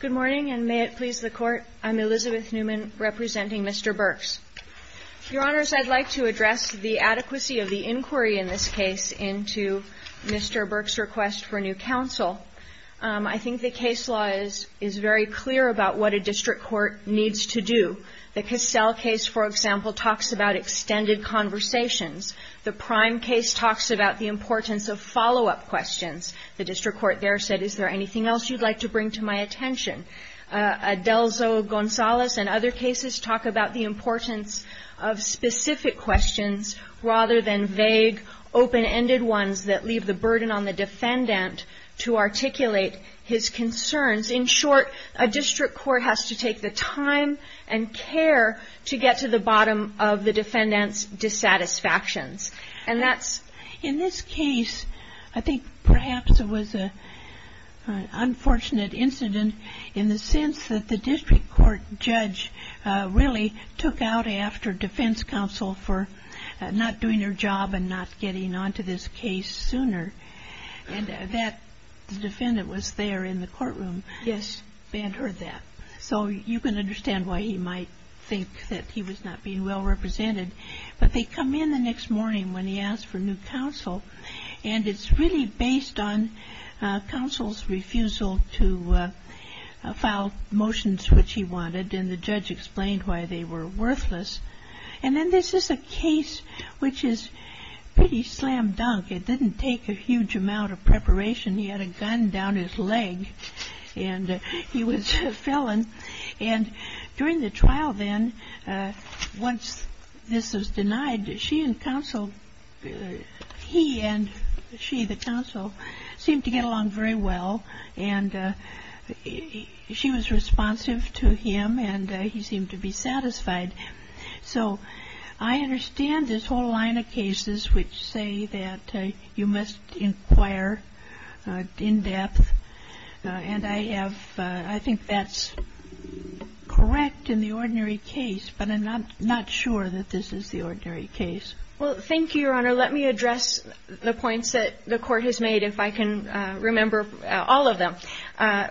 Good morning, and may it please the Court, I'm Elizabeth Newman, representing Mr. Burks. Your Honors, I'd like to address the adequacy of the inquiry in this case into Mr. Burks' request for new counsel. I think the case law is very clear about what a district court needs to do. The Cassell case, for example, talks about extended conversations. The prime case talks about the importance of follow-up questions. The district court there said, is there anything else you'd like to bring to my attention? Adelzo-Gonzalez and other cases talk about the importance of specific questions rather than vague, open-ended ones that leave the burden on the defendant to articulate his concerns. In short, a district court has to take the time and care to get to the bottom of the defendant's dissatisfactions. And that's, in this case, I think perhaps it was an unfortunate incident in the sense that the district court judge really took out after defense counsel for not doing their job and not getting on to this case sooner. And that defendant was there in the courtroom. Yes. And heard that. So you can understand why he might think that he was not being well represented. But they come in the next morning when he asked for new counsel, and it's really based on counsel's refusal to file motions which he wanted, and the judge explained why they were worthless. And then this is a case which is pretty slam-dunk. It didn't take a huge amount of preparation. He had a gun down his leg, and he was a felon. And during the trial then, once this was denied, she and counsel, he and she, the counsel, seemed to get along very well, and she was responsive to him, and he seemed to be satisfied. So I understand this whole line of cases which say that you must inquire in depth, and I have, I think that's correct in the ordinary case, but I'm not sure that this is the ordinary case. Well, thank you, Your Honor. Let me address the points that the Court has made, if I can remember all of them.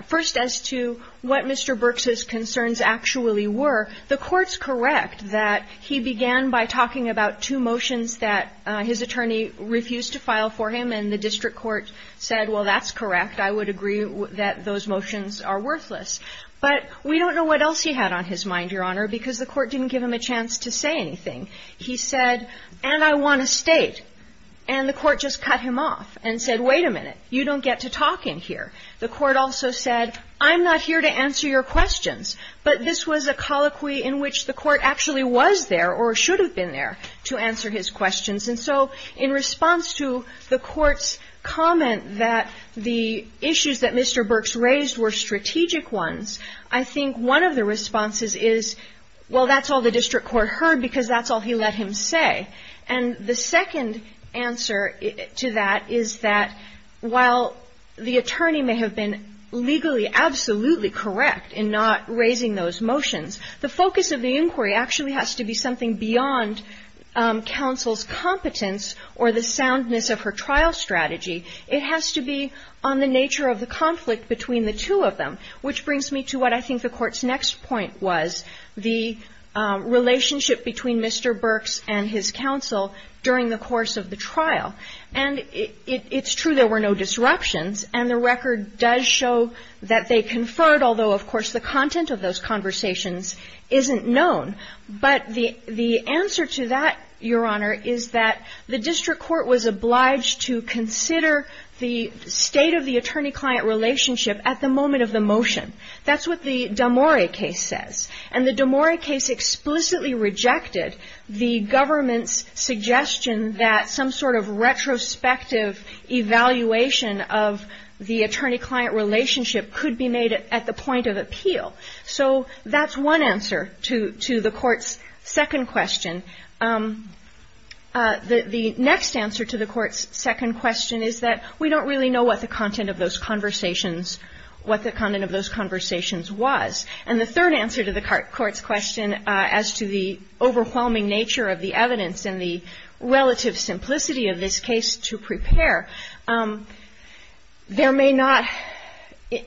First, as to what Mr. Birx's concerns actually were, the Court's correct that he began by talking about two motions that his attorney refused to file for him, and the district court said, well, that's correct. I would agree that those motions are worthless. But we don't know what else he had on his mind, Your Honor, because the Court didn't give him a chance to say anything. He said, and I want to state, and the Court just cut him off and said, wait a minute. You don't get to talk in here. The Court also said, I'm not here to answer your questions, but this was a colloquy in which the Court actually was there or should have been there to answer his questions. And so in response to the Court's comment that the issues that Mr. Birx raised were strategic ones, I think one of the responses is, well, that's all the district court heard because that's all he let him say. And the second answer to that is that while the attorney may have been legally absolutely correct in not raising those motions, the focus of the inquiry actually has to be something beyond counsel's competence or the soundness of her trial strategy. It has to be on the nature of the conflict between the two of them. Which brings me to what I think the Court's next point was, the relationship between Mr. Birx and his counsel during the course of the trial. And it's true there were no disruptions. And the record does show that they conferred, although, of course, the content of those conversations isn't known. But the answer to that, Your Honor, is that the district court was obliged to consider the state of the attorney-client relationship at the moment of the motion. That's what the Damore case says. And the Damore case explicitly rejected the government's suggestion that some sort of retrospective evaluation of the attorney-client relationship could be made at the point of appeal. So that's one answer to the Court's second question. The next answer to the Court's second question is that we don't really know what the content of those conversations was. And the third answer to the Court's question as to the overwhelming nature of the evidence and the relative simplicity of this case to prepare, there may not,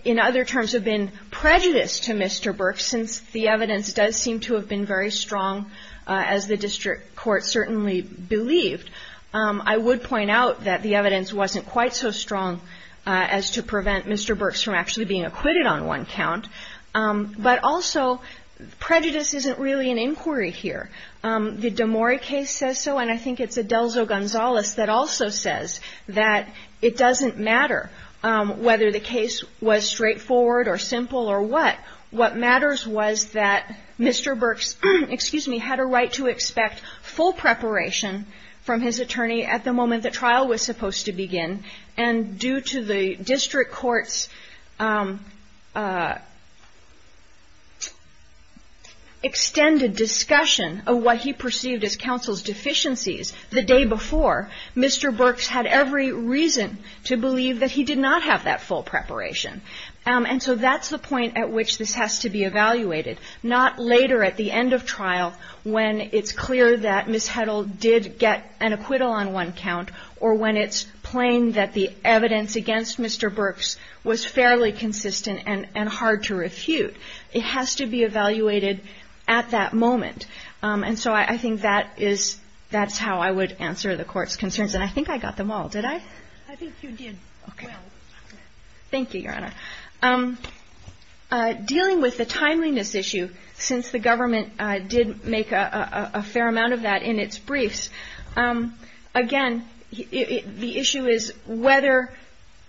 in other terms, have been prejudice to Mr. Birx, since the evidence does seem to have been very strong, as the district court certainly believed. I would point out that the evidence wasn't quite so strong as to prevent Mr. Birx from actually being acquitted on one count. But also, prejudice isn't really an inquiry here. The Damore case says so, and I think it's Adelzo Gonzalez that also says that it doesn't matter whether the case was straightforward or simple or what. What matters was that Mr. Birx, excuse me, had a right to expect full preparation from his attorney at the moment the trial was supposed to begin. And due to the district court's extended discussion of what he perceived as counsel's deficiencies the day before, Mr. Birx had every reason to believe that he did not have that full preparation. And so that's the point at which this has to be evaluated, not later at the end of trial when it's clear that Ms. Hedl did get an acquittal on one count or when it's plain that the evidence against Mr. Birx was fairly consistent and hard to refute. It has to be evaluated at that moment. And so I think that is how I would answer the Court's concerns. And I think I got them all, did I? I think you did well. Okay. Thank you, Your Honor. Dealing with the timeliness issue, since the government did make a fair amount of that in its briefs, again, the issue is whether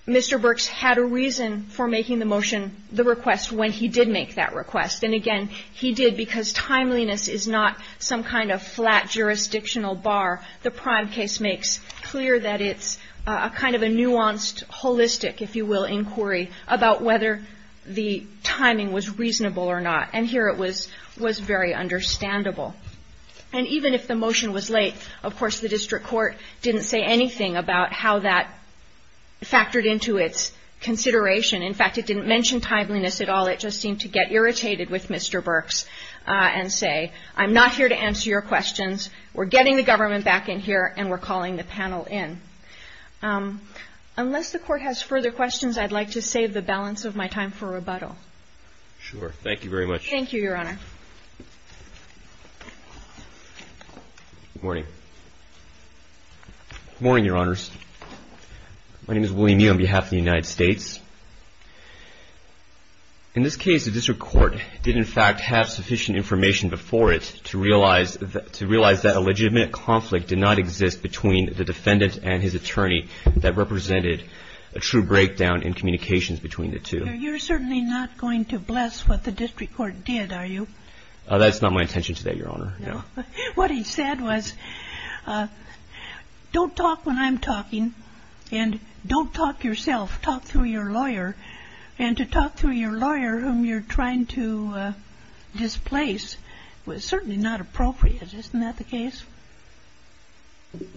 Mr. Birx had a reason for making the motion, the request, when he did make that request. And, again, he did because timeliness is not some kind of flat jurisdictional makes clear that it's a kind of a nuanced, holistic, if you will, inquiry about whether the timing was reasonable or not. And here it was very understandable. And even if the motion was late, of course, the district court didn't say anything about how that factored into its consideration. In fact, it didn't mention timeliness at all. It just seemed to get irritated with Mr. Birx and say, I'm not here to answer your questions. We're getting the government back in here and we're calling the panel in. Unless the court has further questions, I'd like to save the balance of my time for rebuttal. Sure. Thank you very much. Thank you, Your Honor. Good morning. Good morning, Your Honors. My name is William Yu on behalf of the United States. In this case, the district court did, in fact, have sufficient information before it to realize that a legitimate conflict did not exist between the defendant and his attorney that represented a true breakdown in communications between the two. You're certainly not going to bless what the district court did, are you? That's not my intention today, Your Honor. No. What he said was, don't talk when I'm talking and don't talk yourself. I'm going to talk through your lawyer. And to talk through your lawyer whom you're trying to displace was certainly not appropriate. Isn't that the case?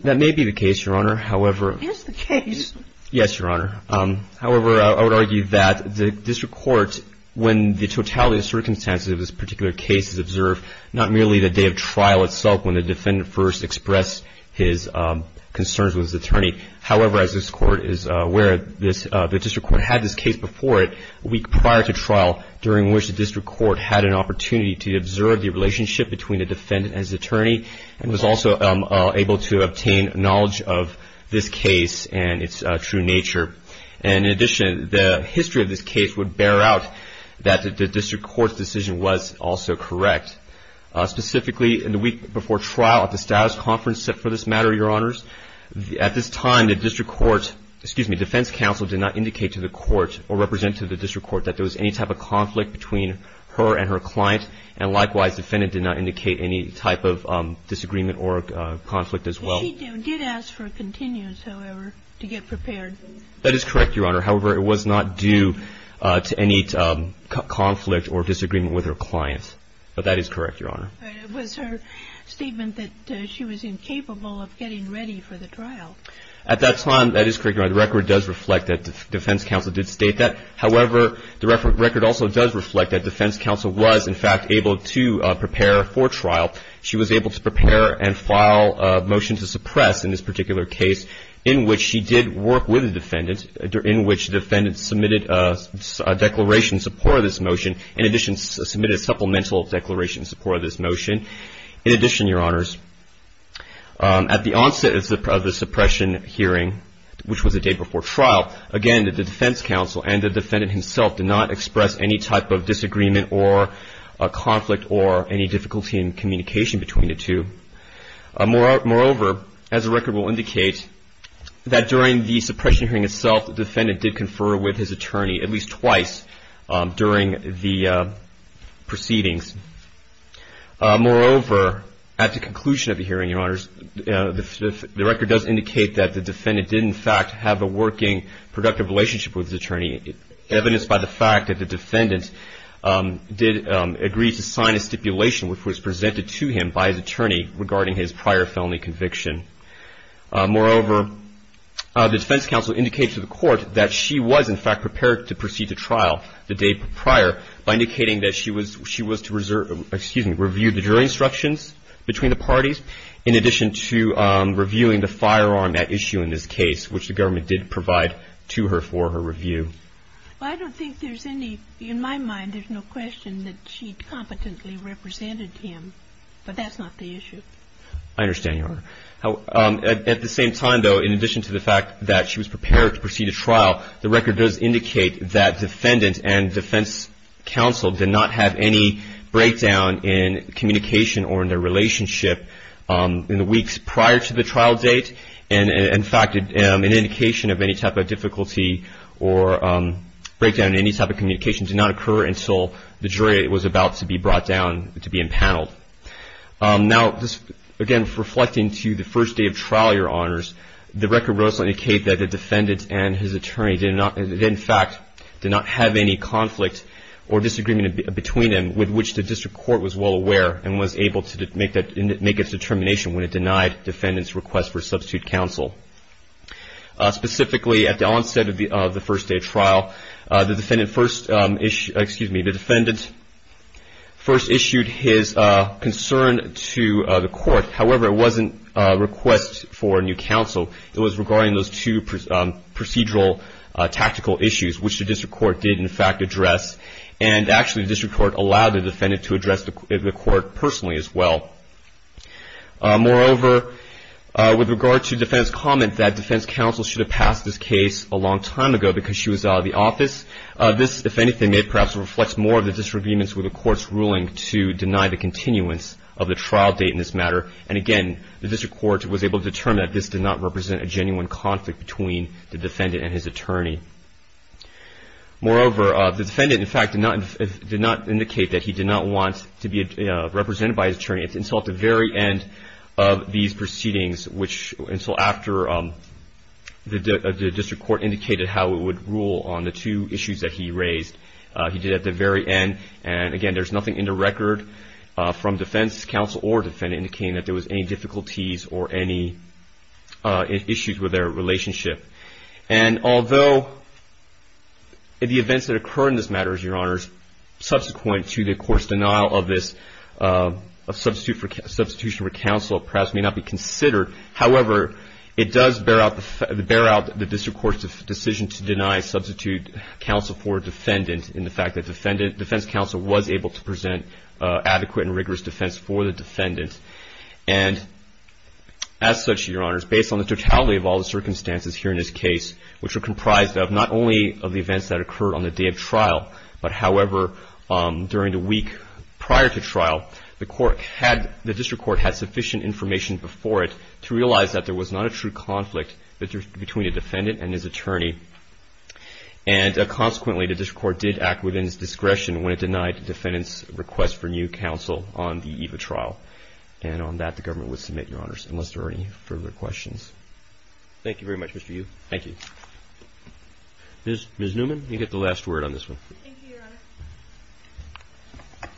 That may be the case, Your Honor. However, It is the case. Yes, Your Honor. However, I would argue that the district court, when the totality of circumstances of this particular case is observed, not merely the day of trial itself when the defendant first expressed his concerns with his attorney. However, as this court is aware, the district court had this case before it, a week prior to trial, during which the district court had an opportunity to observe the relationship between the defendant and his attorney and was also able to obtain knowledge of this case and its true nature. And in addition, the history of this case would bear out that the district court's decision was also correct. Specifically, in the week before trial at the status conference set for this matter, Your Honors, at this time the district court, excuse me, defense counsel did not indicate to the court or represent to the district court that there was any type of conflict between her and her client. And likewise, the defendant did not indicate any type of disagreement or conflict as well. She did ask for a continuance, however, to get prepared. That is correct, Your Honor. However, it was not due to any conflict or disagreement with her client. But that is correct, Your Honor. Was her statement that she was incapable of getting ready for the trial? At that time, that is correct, Your Honor. The record does reflect that defense counsel did state that. However, the record also does reflect that defense counsel was, in fact, able to prepare for trial. She was able to prepare and file a motion to suppress in this particular case in which she did work with the defendant, in which the defendant submitted a declaration in support of this motion, in addition, submitted a supplemental declaration in support of this motion. In addition, Your Honors, at the onset of the suppression hearing, which was the day before trial, again, the defense counsel and the defendant himself did not express any type of disagreement or conflict or any difficulty in communication between the two. Moreover, as the record will indicate, that during the suppression hearing itself, the defendant did confer with his attorney at least twice during the proceedings. Moreover, at the conclusion of the hearing, Your Honors, the record does indicate that the defendant did, in fact, have a working, productive relationship with his attorney, evidenced by the fact that the defendant did agree to sign a stipulation, which was presented to him by his attorney regarding his prior felony conviction. Moreover, the defense counsel indicated to the court that she was, in fact, prepared to proceed to trial the day prior by indicating that she was to reserve, excuse me, review the jury instructions between the parties, in addition to reviewing the firearm at issue in this case, which the government did provide to her for her review. I don't think there's any, in my mind, there's no question that she competently represented him, but that's not the issue. I understand, Your Honor. At the same time, though, in addition to the fact that she was prepared to proceed to trial, the record does indicate that defendant and defense counsel did not have any breakdown in communication or in their relationship in the weeks prior to the trial date. And, in fact, an indication of any type of difficulty or breakdown in any type of communication did not occur until the jury was about to be brought down to be empaneled. Now, again, reflecting to the first day of trial, Your Honors, the record will also indicate that the defendant and his attorney did, in fact, did not have any conflict or disagreement between them with which the district court was well aware and was able to make its determination when it denied defendant's request for substitute counsel. Specifically, at the onset of the first day of trial, the defendant first issued, his concern to the court. However, it wasn't a request for a new counsel. It was regarding those two procedural tactical issues, which the district court did, in fact, address. And, actually, the district court allowed the defendant to address the court personally as well. Moreover, with regard to defendant's comment that defense counsel should have passed this case a long time ago reflects more of the disagreements with the court's ruling to deny the continuance of the trial date in this matter. And, again, the district court was able to determine that this did not represent a genuine conflict between the defendant and his attorney. Moreover, the defendant, in fact, did not indicate that he did not want to be represented by his attorney. It's until at the very end of these proceedings, which until after the district court indicated how it would rule on the two issues that he raised, he did at the very end. And, again, there's nothing in the record from defense counsel or defendant indicating that there was any difficulties or any issues with their relationship. And although the events that occur in this matter, Your Honors, subsequent to the court's denial of this substitution for counsel perhaps may not be considered. However, it does bear out the district court's decision to deny substitute counsel for defendant in the fact that defense counsel was able to present adequate and rigorous defense for the defendant. And as such, Your Honors, based on the totality of all the circumstances here in this case, which are comprised of not only of the events that occurred on the day of trial, but however, during the week prior to trial, the court had the district court had sufficient information before it to realize that there was not a true conflict between the defendant and his attorney. And consequently, the district court did act within its discretion when it denied the defendant's request for new counsel on the eve of trial. And on that, the government would submit, Your Honors, unless there are any further questions. Thank you very much, Mr. Yu. Thank you. Ms. Newman, you get the last word on this one. Thank you, Your Honor.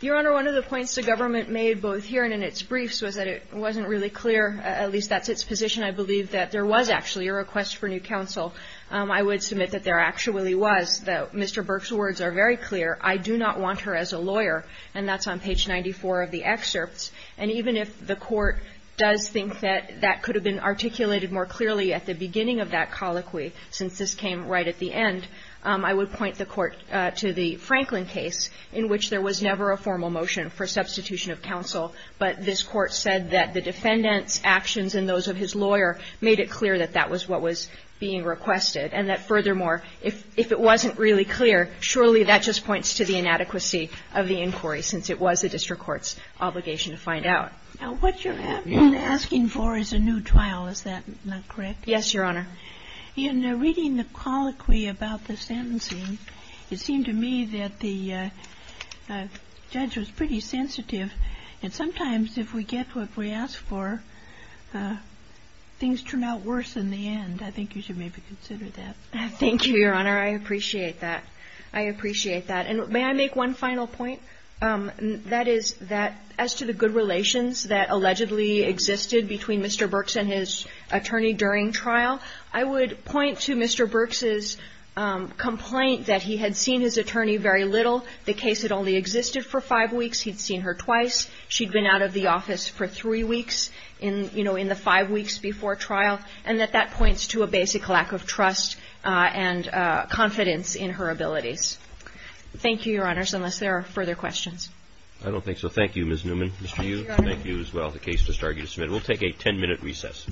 Your Honor, one of the points the government made both here and in its briefs was that it wasn't really clear, at least that's its position. I believe that there was actually a request for new counsel. I would submit that there actually was. Mr. Burke's words are very clear. I do not want her as a lawyer. And that's on page 94 of the excerpts. And even if the court does think that that could have been articulated more clearly at the beginning of that colloquy, since this came right at the end, I would point the Court to the Franklin case in which there was never a formal motion for substitution of counsel, but this Court said that the defendant's actions and those of his lawyer made it clear that that was what was being requested. And that, furthermore, if it wasn't really clear, surely that just points to the inadequacy of the inquiry, since it was the district court's obligation to find out. Now, what you're asking for is a new trial. Is that not correct? Yes, Your Honor. In reading the colloquy about the sentencing, it seemed to me that the judge was pretty sensitive. And sometimes if we get what we ask for, things turn out worse in the end. I think you should maybe consider that. Thank you, Your Honor. I appreciate that. I appreciate that. And may I make one final point? That is that as to the good relations that allegedly existed between Mr. Birx and his attorney during trial, I would point to Mr. Birx's complaint that he had seen his attorney very little. The case had only existed for five weeks. He'd seen her twice. She'd been out of the office for three weeks in, you know, in the five weeks before trial, and that that points to a basic lack of trust and confidence in her abilities. Thank you, Your Honors, unless there are further questions. I don't think so. Thank you, Ms. Newman. Mr. Yu, thank you as well. The case has started to submit. We'll take a ten-minute recess.